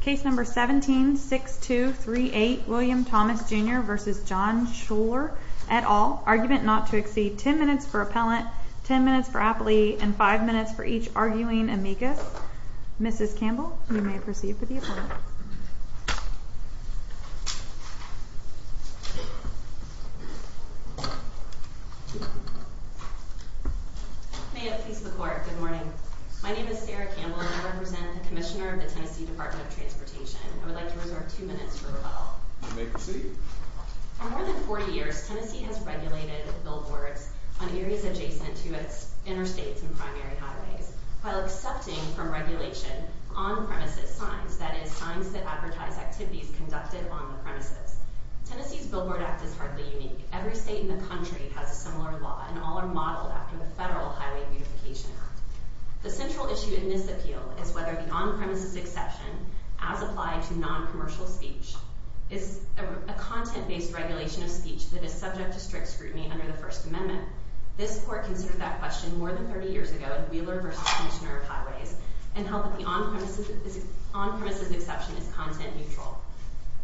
Case No. 17-6238 William Thomas Jr v. John Schroer, et al. Argument not to exceed 10 minutes for appellant, 10 minutes for appellee, and 5 minutes for each arguing amicus. Mrs. Campbell, you may proceed with the appellant. May it please the Court, good morning. My name is Sarah Campbell and I represent the Commissioner of the Tennessee Department of Transportation. I would like to reserve two minutes for rebuttal. You may proceed. For more than 40 years, Tennessee has regulated billboards on areas adjacent to its interstates and primary highways while accepting from regulation on-premises signs, that is, signs that advertise activities conducted on the premises. Tennessee's Billboard Act is hardly unique. Every state in the country has a similar law and all are modeled after the Federal Highway Beautification Act. The central issue in this appeal is whether the on-premises exception, as applied to non-commercial speech, is a content-based regulation of speech that is subject to strict scrutiny under the First Amendment. This Court considered that question more than 30 years ago in Wheeler v. Commissioner of Highways and held that the on-premises exception is content neutral.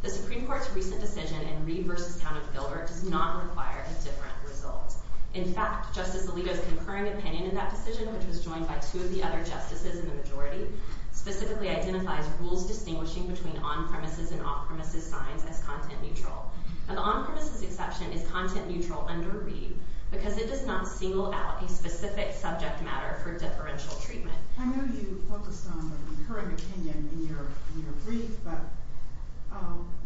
The Supreme Court's recent decision in Reed v. Town of Gilbert does not require a different result. In fact, Justice Alito's concurring opinion in that decision, which was joined by two of the other justices in the majority, specifically identifies rules distinguishing between on-premises and off-premises signs as content neutral. Now the on-premises exception is content neutral under Reed because it does not single out a specific subject matter for differential treatment. I know you focused on the concurring opinion in your brief, but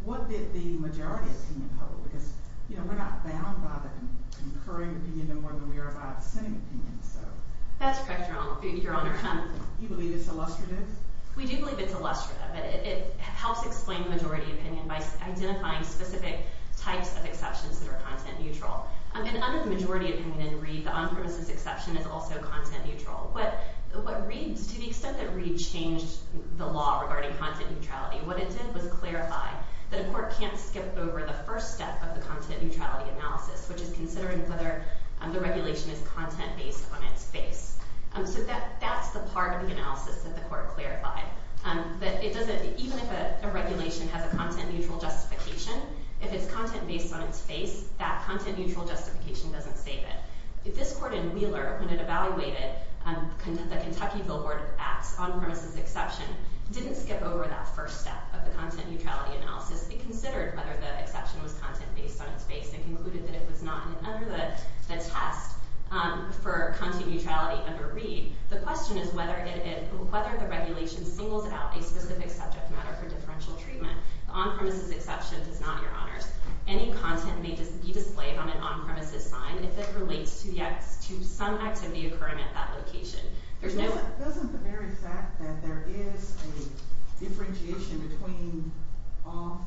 what did the majority opinion hold? Because we're not bound by the concurring opinion more than we are by the same opinion. That's correct, Your Honor. You believe it's illustrative? We do believe it's illustrative. It helps explain the majority opinion by identifying specific types of exceptions that are content neutral. Under the majority opinion in Reed, the on-premises exception is also content neutral. To the extent that Reed changed the law regarding content neutrality, what it did was clarify that a court can't skip over the first step of the content neutrality analysis, which is considering whether the regulation is content-based on its face. So that's the part of the analysis that the court clarified, that even if a regulation has a content-neutral justification, if it's content-based on its face, that content-neutral justification doesn't save it. This court in Wheeler, when it evaluated the Kentucky Billboard of Acts on-premises exception, didn't skip over that first step of the content neutrality analysis. It considered whether the exception was content-based on its face and concluded that it was not. Under the test for content neutrality under Reed, the question is whether the regulation singles out a specific subject matter for differential treatment. The on-premises exception does not, Your Honors. Any content may be displayed on an on-premises sign if it relates to some activity occurring at that location. Doesn't the very fact that there is a differentiation between off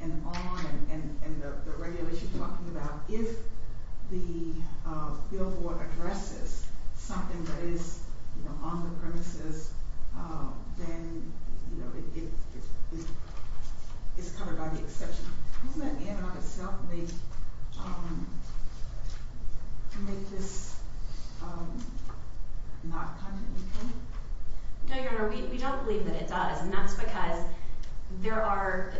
and on and the regulation talking about if the billboard addresses something that is on the premises, then it's covered by the exception. Doesn't that in and of itself make this not content-neutral? No, Your Honor. We don't believe that it does. And that's because there are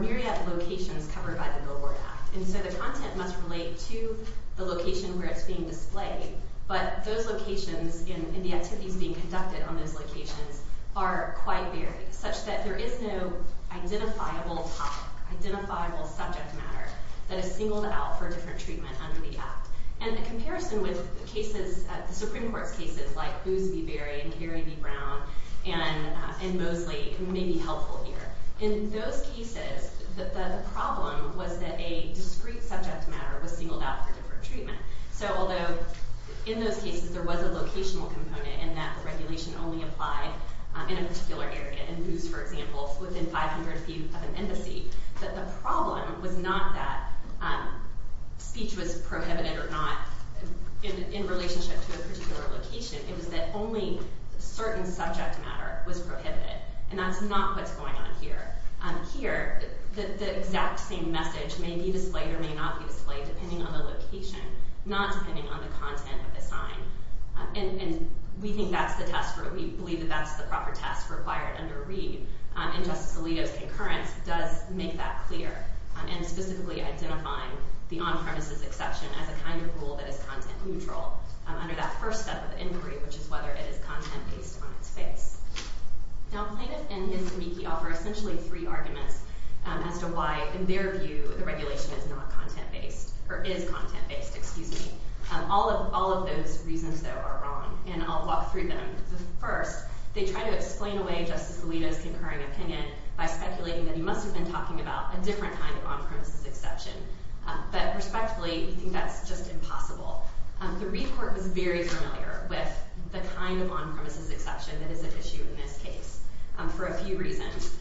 myriad locations covered by the Billboard Act. And so the content must relate to the location where it's being displayed. But those locations and the activities being conducted on those locations are quite varied, such that there is no identifiable topic, identifiable subject matter, that is singled out for different treatment under the Act. And in comparison with cases, the Supreme Court's cases, like Boosby-Berry and Kerry v. Brown and Mosley, who may be helpful here, in those cases, the problem was that a discrete subject matter was singled out for different treatment. So although in those cases there was a locational component in that the regulation only applied in a particular area, in Boos, for example, within 500 feet of an embassy, but the problem was not that speech was prohibited or not in relationship to a particular location. It was that only certain subject matter was prohibited. And that's not what's going on here. Here, the exact same message may be displayed or may not be displayed depending on the location, not depending on the content of the sign. And we think that's the test for it. We believe that that's the proper test required under Reed. And Justice Alito's concurrence does make that clear, and specifically identifying the on-premises exception as a kind of rule that is content neutral under that first step of inquiry, which is whether it is content based on its face. Now, Plaintiff and his committee offer essentially three arguments as to why, in their view, the regulation is not content based, or is content based, excuse me. All of those reasons, though, are wrong, and I'll walk through them. First, they try to explain away Justice Alito's concurring opinion by speculating that he must have been talking about a different kind of on-premises exception. But respectively, we think that's just impossible. The Reed court was very familiar with the kind of on-premises exception that is at issue in this case, for a few reasons.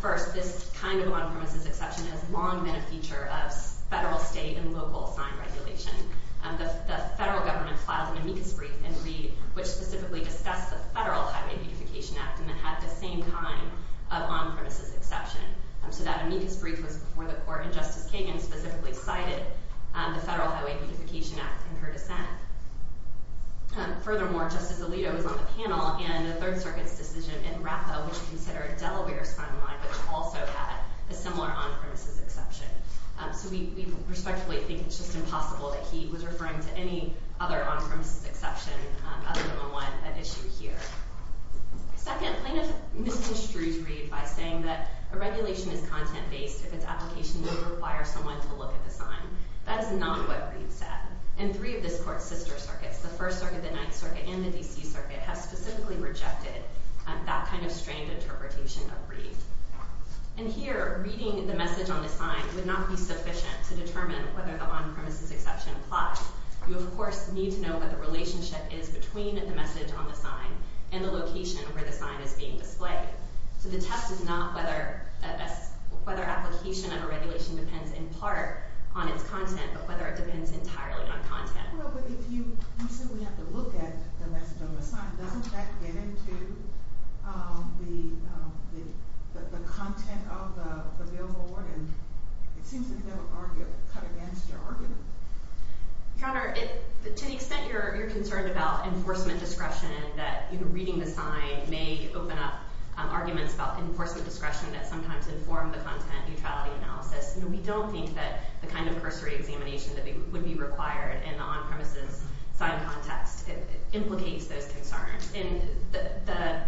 First, this kind of on-premises exception has long been a feature of federal, state, and local sign regulation. The federal government filed an amicus brief in Reed, which specifically discussed the Federal Highway Beautification Act, and it had the same kind of on-premises exception. So that amicus brief was before the court, and Justice Kagan specifically cited the Federal Highway Beautification Act in her dissent. Furthermore, Justice Alito was on the panel, and the Third Circuit's decision in Rapa, which is considered Delaware's final line, which also had a similar on-premises exception. So we respectfully think it's just impossible that he was referring to any other on-premises exception other than one at issue here. Second, Plaintiff misconstrues Reed by saying that a regulation is content based if its application does require someone to look at the sign. That is not what Reed said. In three of this court's sister circuits, the First Circuit, the Ninth Circuit, and the D.C. Circuit, have specifically rejected that kind of strained interpretation of Reed. And here, reading the message on the sign would not be sufficient to determine whether the on-premises exception applies. You, of course, need to know what the relationship is between the message on the sign and the location where the sign is being displayed. So the test is not whether application of a regulation depends in part on its content, but whether it depends entirely on content. Well, but if you simply have to look at the message on the sign, doesn't that get into the content of the billboard? And it seems that they'll cut against your argument. Your Honor, to the extent you're concerned about enforcement discretion, that reading the sign may open up arguments about enforcement discretion that sometimes inform the content neutrality analysis, we don't think that the kind of cursory examination that would be required in the on-premises sign context implicates those concerns. And the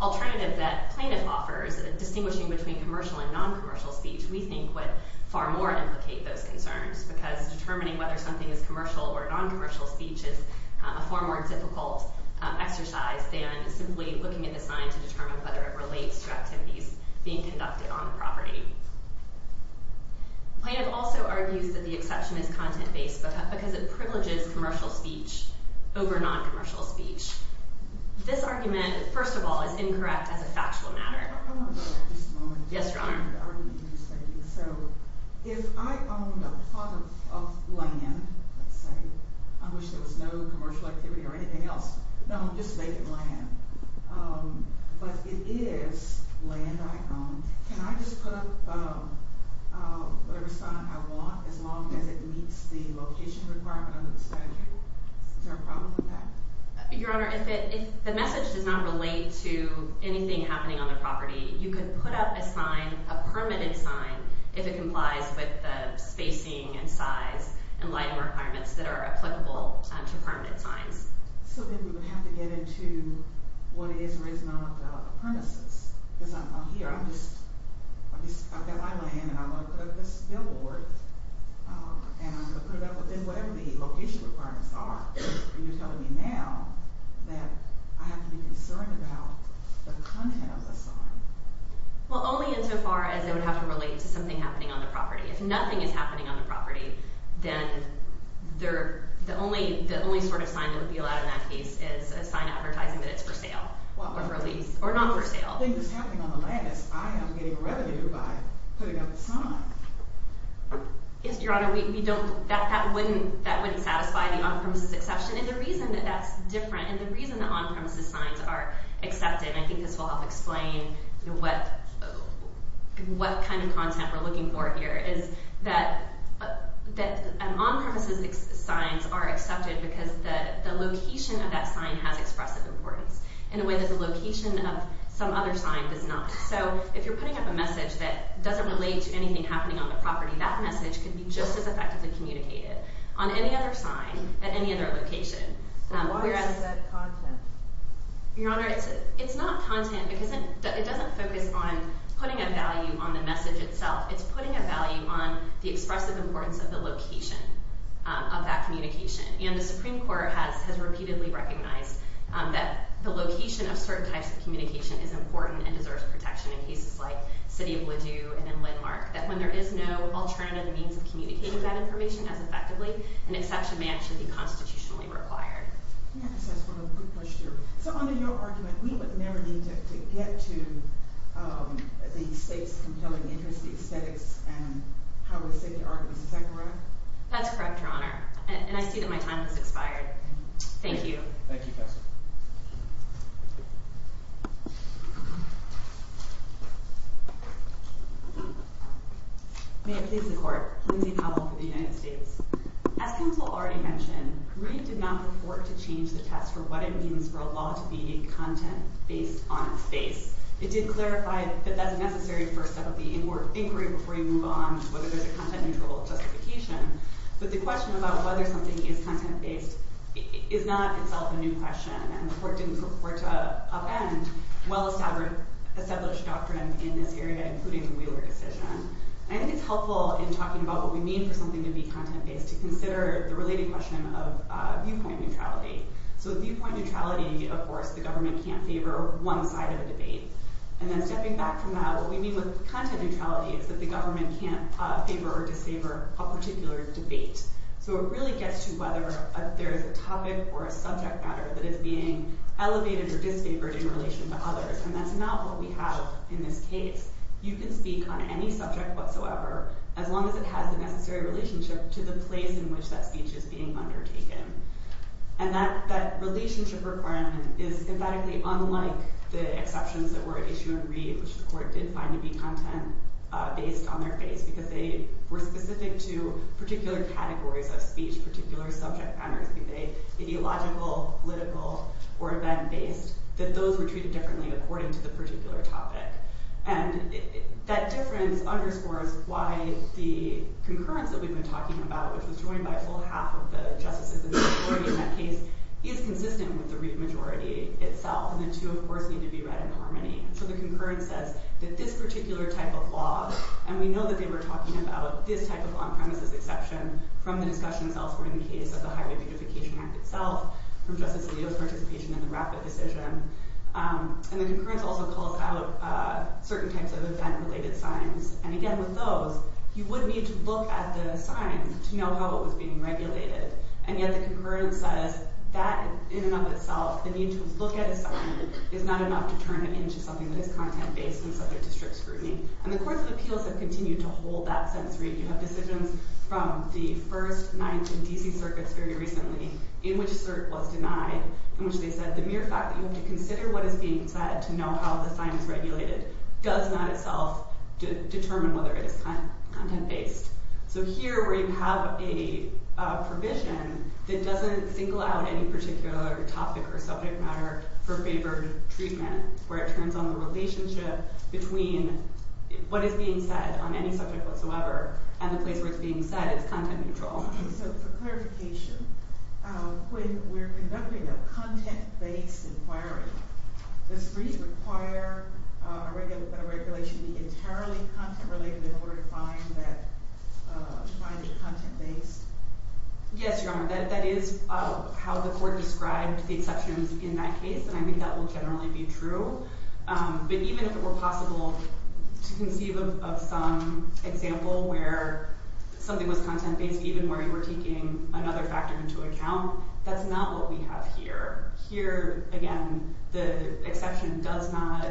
alternative that plaintiff offers, distinguishing between commercial and non-commercial speech, we think would far more implicate those concerns, because determining whether something is commercial or non-commercial speech is a far more difficult exercise than simply looking at the sign to determine whether it relates to activities being conducted on the property. Plaintiff also argues that the exception is content-based because it privileges commercial speech over non-commercial speech. This argument, first of all, is incorrect as a factual matter. I want to go back just a moment. Yes, Your Honor. So if I owned a plot of land, let's say, I wish there was no commercial activity or anything else, no, just vacant land, but it is land I own, can I just put up whatever sign I want as long as it meets the location requirement under the statute? Is there a problem with that? Your Honor, if the message does not relate to anything happening on the property, you could put up a sign, a permanent sign, if it complies with the spacing and size and lighting requirements that are applicable to permanent signs. So then we would have to get into what is or is not a premises. Because I'm here, I've got my land, and I'm going to put up this billboard, and I'm going to put it up within whatever the location requirements are. And you're telling me now that I have to be concerned about the content of the sign. Well, only insofar as it would have to relate to something happening on the property. If nothing is happening on the property, then the only sort of sign that would be allowed in that case is a sign advertising that it's for sale or for lease or not for sale. Well, if nothing is happening on the land, I am getting revenue by putting up a sign. Yes, Your Honor. That wouldn't satisfy the on-premises exception. And the reason that that's different and the reason that on-premises signs are accepted, and I think this will help explain what kind of content we're looking for here, is that on-premises signs are accepted because the location of that sign has expressive importance in a way that the location of some other sign does not. So if you're putting up a message that doesn't relate to anything happening on the property, that message could be just as effectively communicated on any other sign at any other location. Why is that content? Your Honor, it's not content because it doesn't focus on putting a value on the message itself. It's putting a value on the expressive importance of the location of that communication. And the Supreme Court has repeatedly recognized that the location of certain types of communication is important and deserves protection in cases like City of Lidu and Landmark. That when there is no alternative means of communicating that information as effectively, an exception may actually be constitutionally required. Let me just ask one more quick question here. So under your argument, we would never need to get to the state's compelling interest, the aesthetics, and how we say the art is. Is that correct? That's correct, Your Honor. And I see that my time has expired. Thank you. Thank you, Justice. May it please the Court. Lindsay Powell for the United States. As counsel already mentioned, Green did not report to change the test for what it means for a law to be content-based on its base. It did clarify that that's necessary for some of the inquiry before you move on, whether there's a content-neutral justification. But the question about whether something is content-based is not itself a new question, and the Court didn't report to upend well-established doctrines in this area, including the Wheeler decision. I think it's helpful in talking about what we mean for something to be content-based to consider the related question of viewpoint neutrality. So viewpoint neutrality, of course, the government can't favor one side of a debate. And then stepping back from that, what we mean with content neutrality is that the government can't favor or disfavor a particular debate. So it really gets to whether there is a topic or a subject matter that is being elevated or disfavored in relation to others, and that's not what we have in this case. You can speak on any subject whatsoever, as long as it has the necessary relationship to the place in which that speech is being undertaken. And that relationship requirement is emphatically unlike the exceptions that were at issue in Reed, which the Court did find to be content-based on their base because they were specific to particular categories of speech, particular subject matters, ideological, political, or event-based, that those were treated differently according to the particular topic. And that difference underscores why the concurrence that we've been talking about, which was joined by a full half of the justices in the majority in that case, is consistent with the Reed majority itself. And the two, of course, need to be read in harmony. So the concurrence says that this particular type of law, and we know that they were talking about this type of on-premises exception from the discussions elsewhere in the case of the Highway Beautification Act itself, from Justice Alito's participation in the RAPID decision. And the concurrence also calls out certain types of event-related signs. And again, with those, you would need to look at the sign to know how it was being regulated. And yet the concurrence says that in and of itself, the need to look at a sign is not enough to turn it into something that is content-based and subject to strict scrutiny. And the courts of appeals have continued to hold that sense, Reed. You have decisions from the First, Ninth, and D.C. circuits very recently in which cert was denied, in which they said the mere fact that you have to consider what is being said to know how the sign is regulated does not itself determine whether it is content-based. So here, where you have a provision that doesn't single out any particular topic or subject matter for favored treatment, where it turns on the relationship between what is being said on any subject whatsoever and the place where it's being said, it's content-neutral. So for clarification, when we're conducting a content-based inquiry, does Reed require a regulation to be entirely content-related in order to find it content-based? Yes, Your Honor, that is how the court described the exceptions in that case, and I think that will generally be true. But even if it were possible to conceive of some example where something was content-based, even where you were taking another factor into account, that's not what we have here. Here, again, the exception does not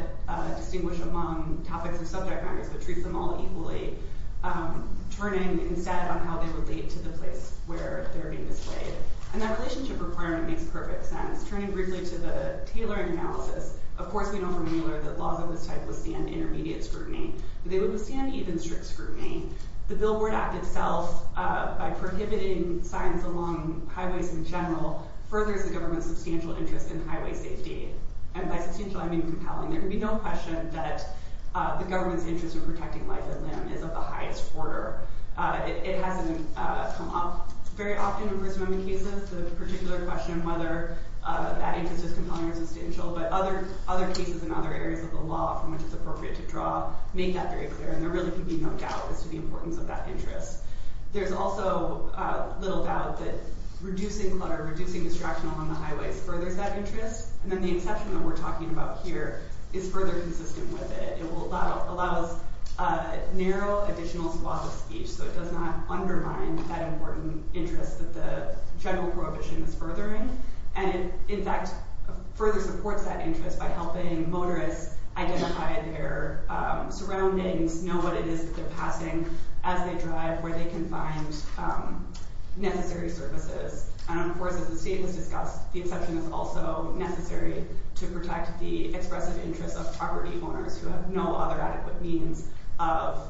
distinguish among topics or subject matters but treats them all equally, turning instead on how they relate to the place where they're being displayed. And that relationship requirement makes perfect sense. Turning briefly to the tailoring analysis, of course we know from Mueller that laws of this type withstand intermediate scrutiny, but they withstand even strict scrutiny. The Billboard Act itself, by prohibiting signs along highways in general, furthers the government's substantial interest in highway safety. And by substantial, I mean compelling. There can be no question that the government's interest in protecting life and limb is of the highest order. It hasn't come up very often in First Amendment cases. The particular question of whether that interest is compelling or substantial, but other cases in other areas of the law from which it's appropriate to draw, make that very clear. And there really can be no doubt as to the importance of that interest. There's also little doubt that reducing clutter, reducing distraction along the highways, furthers that interest. And then the exception that we're talking about here is further consistent with it. It allows a narrow additional swath of speech, so it does not undermine that important interest that the general prohibition is furthering. And it, in fact, further supports that interest by helping motorists identify their surroundings, know what it is that they're passing as they drive, where they can find necessary services. And of course, as the State has discussed, the exception is also necessary to protect the expressive interests of property owners who have no other adequate means of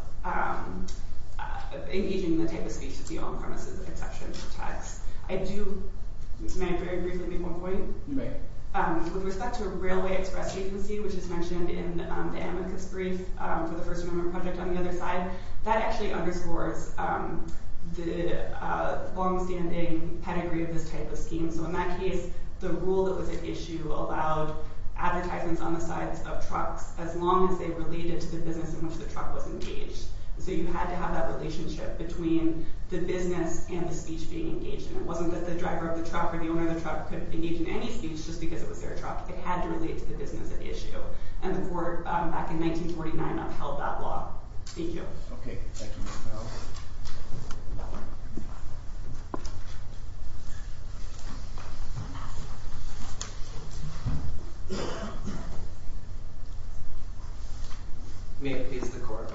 engaging in the type of speech that the on-premises exception protects. I do, may I very briefly make one point? You may. With respect to Railway Express Agency, which is mentioned in the amicus brief for the First Amendment project on the other side, that actually underscores the long-standing pedigree of this type of scheme. So in that case, the rule that was at issue allowed advertisements on the sides of trucks as long as they related to the business in which the truck was engaged. So you had to have that relationship between the business and the speech being engaged in. It wasn't that the driver of the truck or the owner of the truck could engage in any speech just because it was their truck. It had to relate to the business at issue. And the Court, back in 1949, upheld that law. Thank you. Thank you. May it please the Court.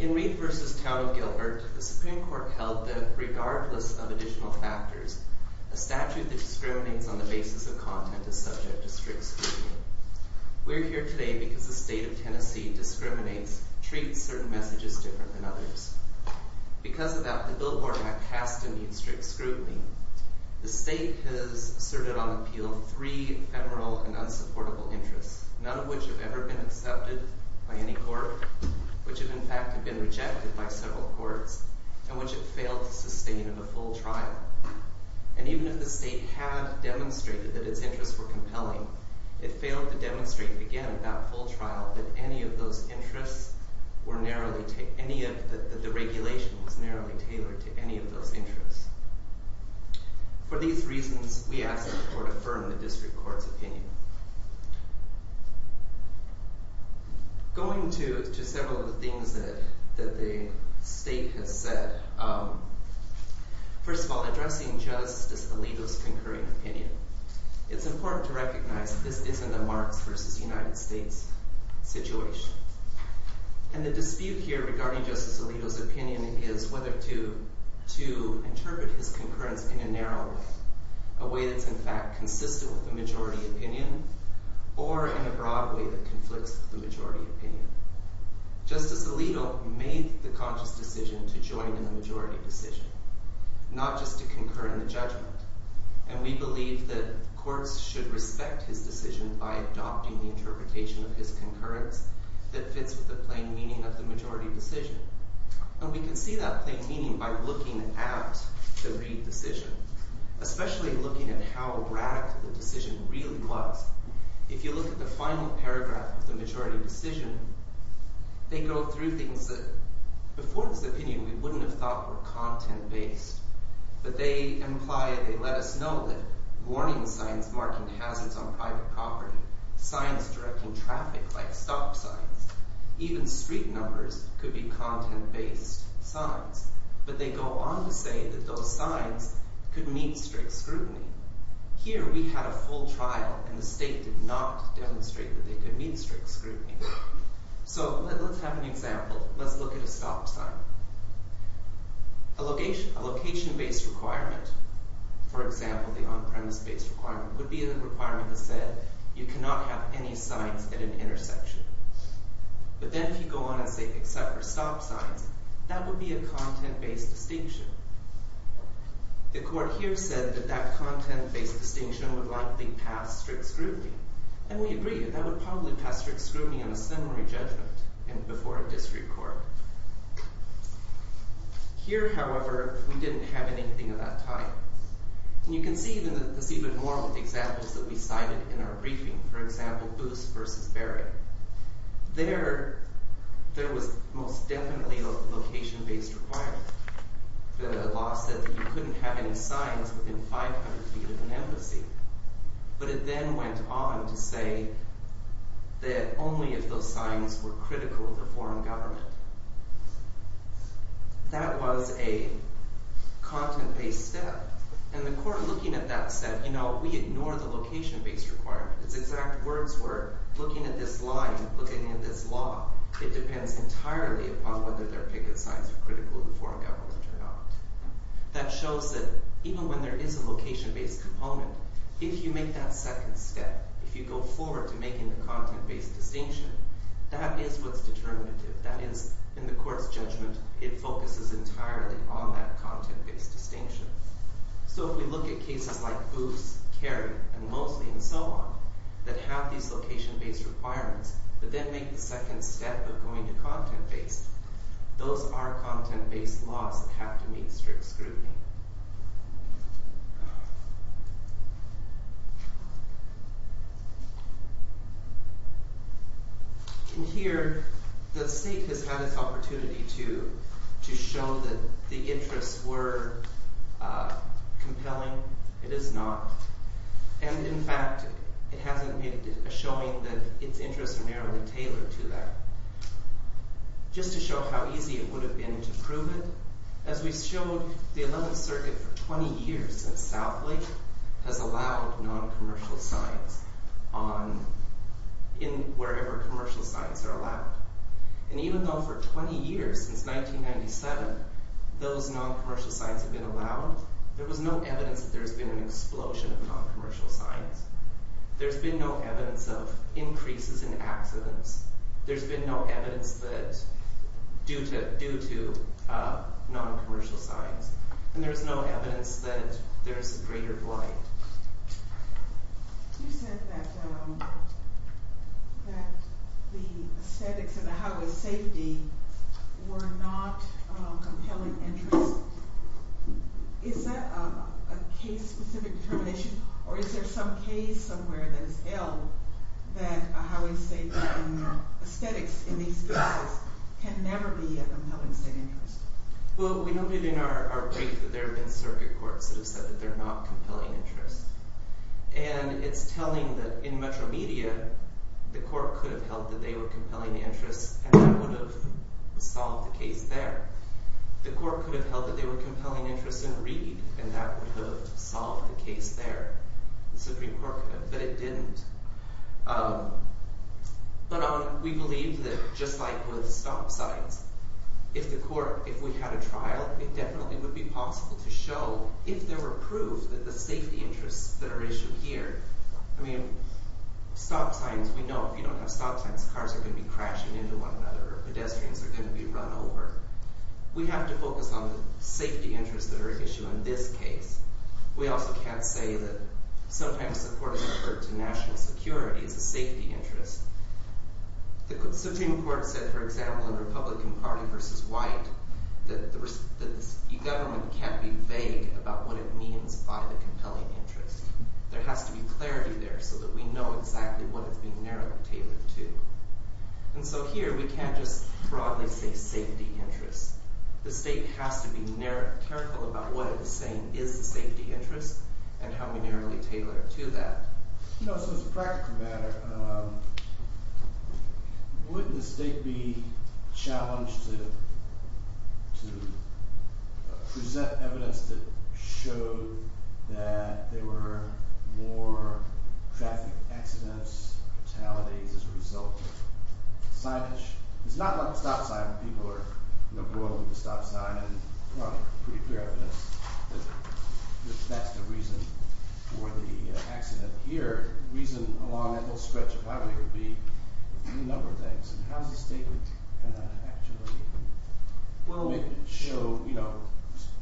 In Reed v. Town of Gilbert, the Supreme Court held that regardless of additional factors, a statute that discriminates on the basis of content is subject to strict scrutiny. We're here today because the state of Tennessee discriminates, treats certain messages different than others. Because of that, the Bill of Rights Act has to meet strict scrutiny. The state has asserted on appeal three ephemeral and unsupportable interests, none of which have ever been accepted by any court, which have, in fact, been rejected by several courts, and which it failed to sustain in a full trial. And even if the state had demonstrated that its interests were compelling, it failed to demonstrate, again, in that full trial, that any of those interests were narrowly, that the regulation was narrowly tailored to any of those interests. For these reasons, we ask that the Court affirm the District Court's opinion. Going to several of the things that the state has said, first of all, addressing Justice Alito's concurring opinion. It's important to recognize this isn't a Marx versus United States situation. And the dispute here regarding Justice Alito's opinion is whether to interpret his concurrence in a narrow way, a way that's, in fact, consistent with the majority opinion, or in a broad way that conflicts with the majority opinion. Justice Alito made the conscious decision to join in the majority decision, not just to concur in the judgment. And we believe that courts should respect his decision by adopting the interpretation of his concurrence that fits with the plain meaning of the majority decision. And we can see that plain meaning by looking at the Reid decision, especially looking at how radical the decision really was. If you look at the final paragraph of the majority decision, they go through things that, before this opinion, we wouldn't have thought were content-based. But they imply, they let us know that warning signs marking hazards on private property, signs directing traffic like stop signs, even street numbers could be content-based signs. But they go on to say that those signs could meet strict scrutiny. Here, we had a full trial, and the state did not demonstrate that they could meet strict scrutiny. So, let's have an example. Let's look at a stop sign. A location-based requirement, for example, the on-premise-based requirement, would be the requirement that said, you cannot have any signs at an intersection. But then if you go on and say except for stop signs, that would be a content-based distinction. The court here said that that content-based distinction would likely pass strict scrutiny. And we agree, that would probably pass strict scrutiny on a summary judgment before a district court. Here, however, we didn't have anything of that type. And you can see even more with the examples that we cited in our briefing. For example, Booth's versus Berry. There, there was most definitely a location-based requirement. The law said that you couldn't have any signs within 500 feet of an embassy. But it then went on to say that only if those signs were critical of the foreign government. That was a content-based step. And the court, looking at that, said, you know, we ignore the location-based requirement. Its exact words were, looking at this line, looking at this law, it depends entirely upon whether their picket signs are critical of the foreign government or not. That shows that even when there is a location-based component, if you make that second step, if you go forward to making the content-based distinction, that is what's determinative. That is, in the court's judgment, it focuses entirely on that content-based distinction. So if we look at cases like Booth's, Cary, and Mosley, and so on, that have these location-based requirements, but then make the second step of going to content-based, those are content-based laws that have to meet strict scrutiny. And here, the state has had its opportunity to show that the interests were compelling. It is not. And in fact, it hasn't made a showing that its interests are narrowly tailored to that. Just to show how easy it would have been to prove it, as we showed, the 11th Circuit, for 20 years, since Southlake, has allowed non-commercial signs in wherever commercial signs are allowed. And even though for 20 years, since 1997, those non-commercial signs have been allowed, there was no evidence that there has been an explosion of non-commercial signs. There's been no evidence of increases in accidents. There's been no evidence due to non-commercial signs. And there's no evidence that there's a greater blind. You said that the aesthetics of the highway safety were not compelling interests. Is that a case-specific determination, or is there some case somewhere that is ill that a highway safety and aesthetics in these cases can never be a compelling state interest? Well, we noted in our brief that there have been circuit courts that have said that they're not compelling interests. And it's telling that in Metro Media, the court could have held that they were compelling interests, and that would have solved the case there. The court could have held that they were compelling interests in Reed, and that would have solved the case there. The Supreme Court could have, but it didn't. But we believe that just like with stop signs, if the court, if we had a trial, it definitely would be possible to show, if there were proof, that the safety interests that are issued here... I mean, stop signs, we know if you don't have stop signs, cars are going to be crashing into one another, or pedestrians are going to be run over. We have to focus on the safety interests that are at issue in this case. We also can't say that sometimes the court has referred to national security as a safety interest. The Supreme Court said, for example, in Republican Party versus White, that the government can't be vague about what it means by the compelling interest. There has to be clarity there so that we know exactly what it's being narrowly tailored to. And so here, we can't just broadly say safety interests. The state has to be careful about what it is saying is the safety interest, and how we narrowly tailor to that. You know, so as a practical matter, wouldn't the state be challenged to present evidence that showed that there were more traffic accidents, fatalities as a result of signage? It's not like stop signs, people are, you know, that's the reason for the accident here. The reason along that whole stretch of highway would be a number of things. And how does the state actually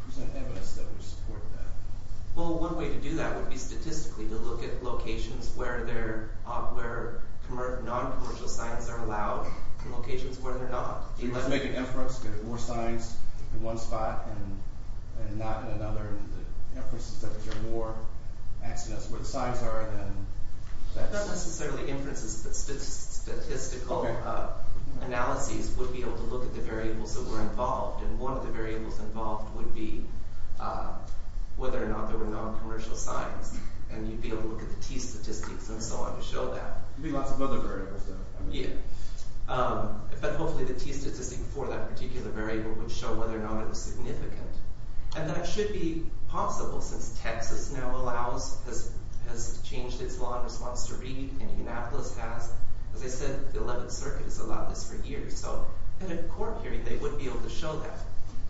present evidence that would support that? Well, one way to do that would be statistically to look at locations where non-commercial signs are allowed and locations where they're not. It's making efforts to get more signs in one spot and not in another. And the emphasis is that there are more accidents where the signs are than... Not necessarily inferences, but statistical analyses would be able to look at the variables that were involved. And one of the variables involved would be whether or not there were non-commercial signs. And you'd be able to look at the T-statistics and so on to show that. There'd be lots of other variables, though. Yeah. But hopefully the T-statistic for that particular variable would show whether or not it was significant. And that it should be possible, since Texas now allows... Has changed its law and just wants to read, and Indianapolis has. As I said, the 11th Circuit has allowed this for years. So in a court hearing, they would be able to show that.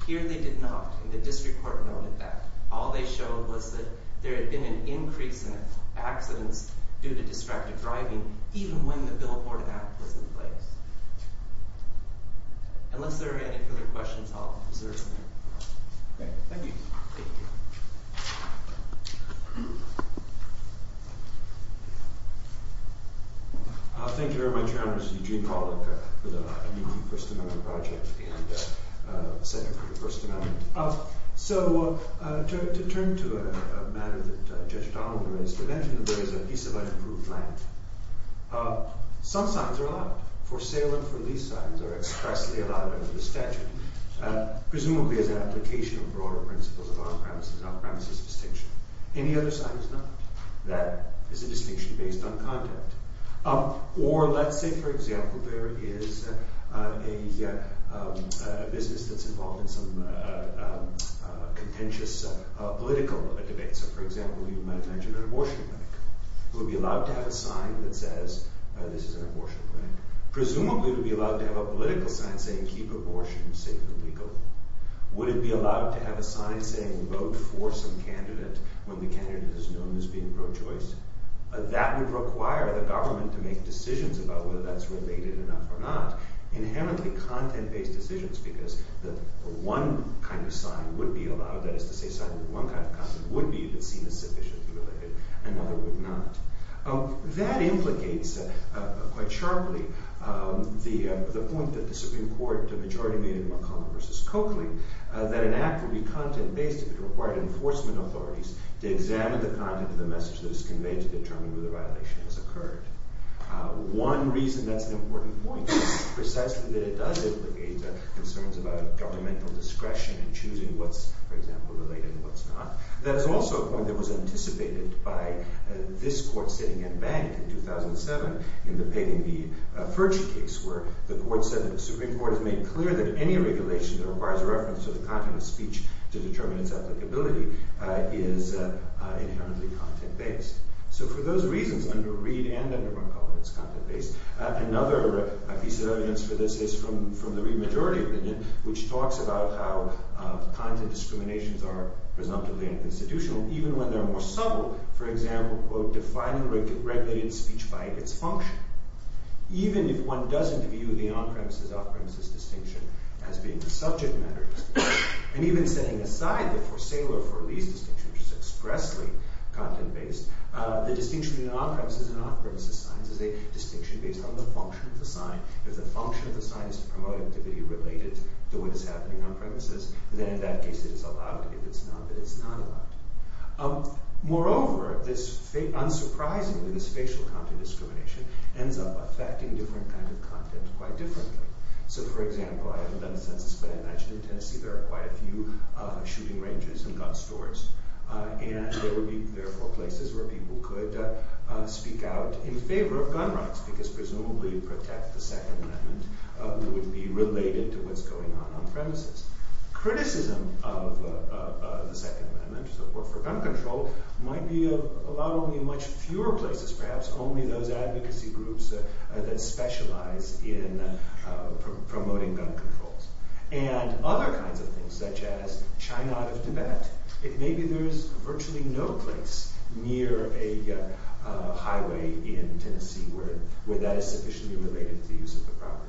Here, they did not, and the district court noted that. All they showed was that there had been an increase in accidents due to distracted driving even when the Billboard Act was in place. Unless there are any further questions, I'll observe them. Okay, thank you. Thank you. Thank you very much, Your Honor. This is Eugene Pollack with the U.P. First Amendment Project and the Center for the First Amendment. So to turn to a matter that Judge Donovan raised. You mentioned that there is a piece of unapproved land. Some signs are allowed. For sale and for lease signs are expressly allowed under the statute. Presumably as an application of broader principles of on-premises and off-premises distinction. Any other sign is not. That is a distinction based on content. Or let's say, for example, there is a business that's involved in some contentious political debates. For example, you might mention an abortion clinic. Would it be allowed to have a sign that says this is an abortion clinic? Presumably it would be allowed to have a political sign saying keep abortion safe and legal. Would it be allowed to have a sign saying vote for some candidate when the candidate is known as being pro-choice? That would require the government to make decisions about whether that's related enough or not. Inherently content-based decisions because one kind of sign would be allowed. That is to say, one kind of content would be that seems sufficiently related. Another would not. That implicates quite sharply the point that the Supreme Court majority made in McCollum v. Coakley that an act would be content-based if it required enforcement authorities to examine the content of the message that is conveyed to determine whether the violation has occurred. One reason that's an important point is precisely that it does implicate concerns about governmental discretion in choosing what's, for example, related and what's not. That is also a point that was anticipated by this court sitting in Bank in 2007 in the Peyton v. Furch case where the court said that the Supreme Court has made clear that any regulation that requires a reference to the content of speech to determine its applicability is inherently content-based. So for those reasons, under Reid and under McCollum, it's content-based. Another piece of evidence for this is from the Reid majority opinion which talks about how content discriminations are presumptively unconstitutional even when they're more subtle. For example, defining regulated speech by its function. Even if one doesn't view the on-premises, off-premises distinction as being a subject matter distinction. And even setting aside the foresay or forelease distinction, which is expressly content-based, the distinction between on-premises and off-premises signs is a distinction based on the function of the sign. If the function of the sign is to promote activity related to what is happening on-premises, then in that case it is allowed. If it's not, then it's not allowed. Moreover, unsurprisingly, this facial content discrimination ends up affecting different kinds of content quite differently. So for example, I haven't done a census, but I imagine in Tennessee there are quite a few shooting ranges and gun stores. And there are places where people could speak out in favor of gun rights because presumably you protect the Second Amendment that would be related to what's going on on-premises. Criticism of the Second Amendment or for gun control might be allowed only in much fewer places, perhaps only those advocacy groups that specialize in promoting gun controls. And other kinds of things, such as China out of Tibet, it may be there's virtually no place near a highway in Tennessee where that is sufficiently related to the use of the property.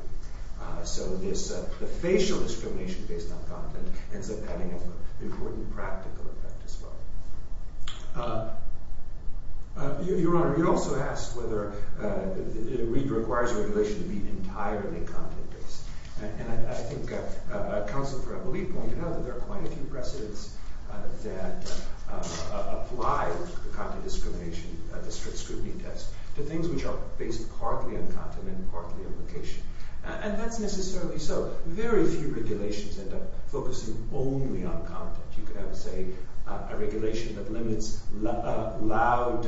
So the facial discrimination based on content ends up having an important practical effect as well. Your Honor, you also asked whether it requires a regulation to be entirely content-based. And I think Counsel for Eveline pointed out that there are quite a few precedents that apply the content discrimination or the strict scrutiny test to things which are based partly on content and partly on location. And that's necessarily so. Very few regulations end up focusing only on content. You could have, say, a regulation that limits loud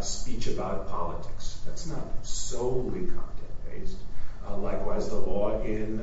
speech about politics. That's not solely content-based. Likewise, the law in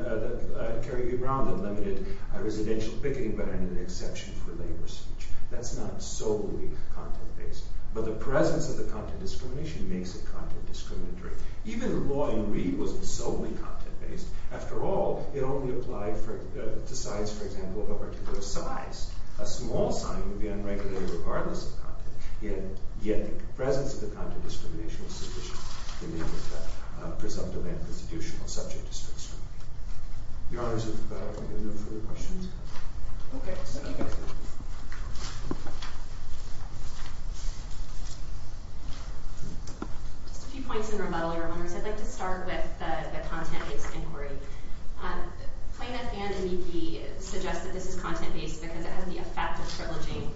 Kerry v. Brown that limited residential picking but added an exception for labor speech. That's not solely content-based. But the presence of the content discrimination makes it content discriminatory. Even the law in Reed wasn't solely content-based. After all, it only applied to size, for example, of a particular size. A small sign would be unregulated regardless of content. And yet the presence of the content discrimination was sufficient to make it presumptive and constitutional subject to strict scrutiny. Your Honor, are there any further questions? Okay. Thank you. Just a few points in rebuttal, Your Honors. I'd like to start with the content-based inquiry. Planoff and Amici suggest that this is content-based because it has the effect of privileging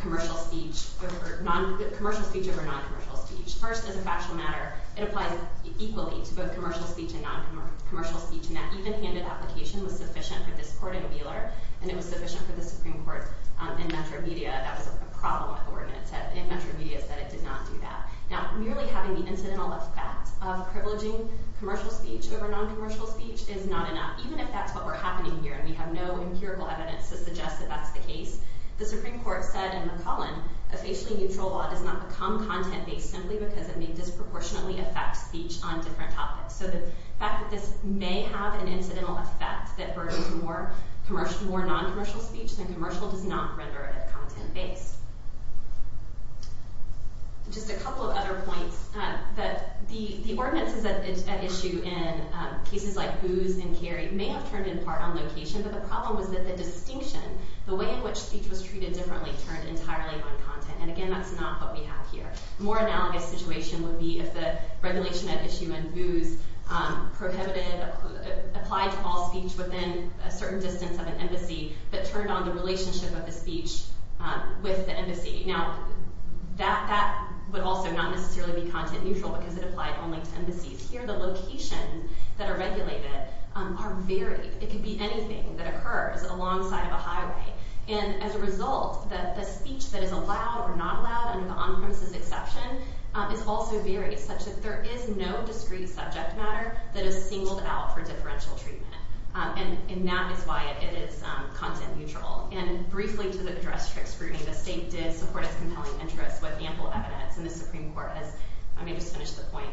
commercial speech over non-commercial speech. First, as a factual matter, it applies equally to both commercial speech and non-commercial speech. And that even-handed application was sufficient for this court in Wheeler, and it was sufficient for the Supreme Court in Metro Media. That was a problem with the ordinance. Metro Media said it did not do that. Now, merely having the incidental effect of privileging commercial speech over non-commercial speech is not enough. Even if that's what were happening here and we have no empirical evidence to suggest that that's the case, the Supreme Court said in McClellan a facially neutral law does not become content-based simply because it may disproportionately affect speech on different topics. So the fact that this may have an incidental effect that burdened more non-commercial speech, then commercial does not render it content-based. Just a couple of other points. The ordinances at issue in cases like Boos and Carey may have turned in part on location, but the problem was that the distinction, the way in which speech was treated differently, turned entirely on content. And again, that's not what we have here. A more analogous situation would be if the regulation at issue in Boos prohibited, applied to all speech within a certain distance of an embassy, but turned on the relationship of the speech with the embassy. Now, that would also not necessarily be content-neutral because it applied only to embassies. Here, the locations that are regulated are varied. It could be anything that occurs alongside of a highway. And as a result, the speech that is allowed or not allowed under the on-premises exception is also varied, such that there is no discrete subject matter that is singled out for differential treatment. And that is why it is content-neutral. And briefly to address trick scrutiny, the state did support its compelling interests with ample evidence. And the Supreme Court has, let me just finish the point.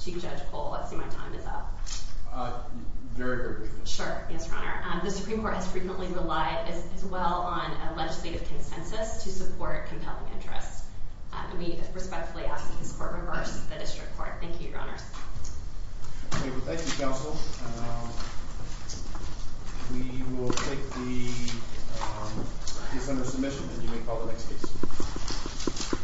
Chief Judge Pohl, let's see, my time is up. Very quickly. Sure. Yes, Your Honor. The Supreme Court has frequently relied as well on a legislative consensus to support compelling interests. And we respectfully ask that this court reverse the district court. Thank you, Your Honor. Okay, well, thank you, counsel. We will take the December submission, and you may call the next case.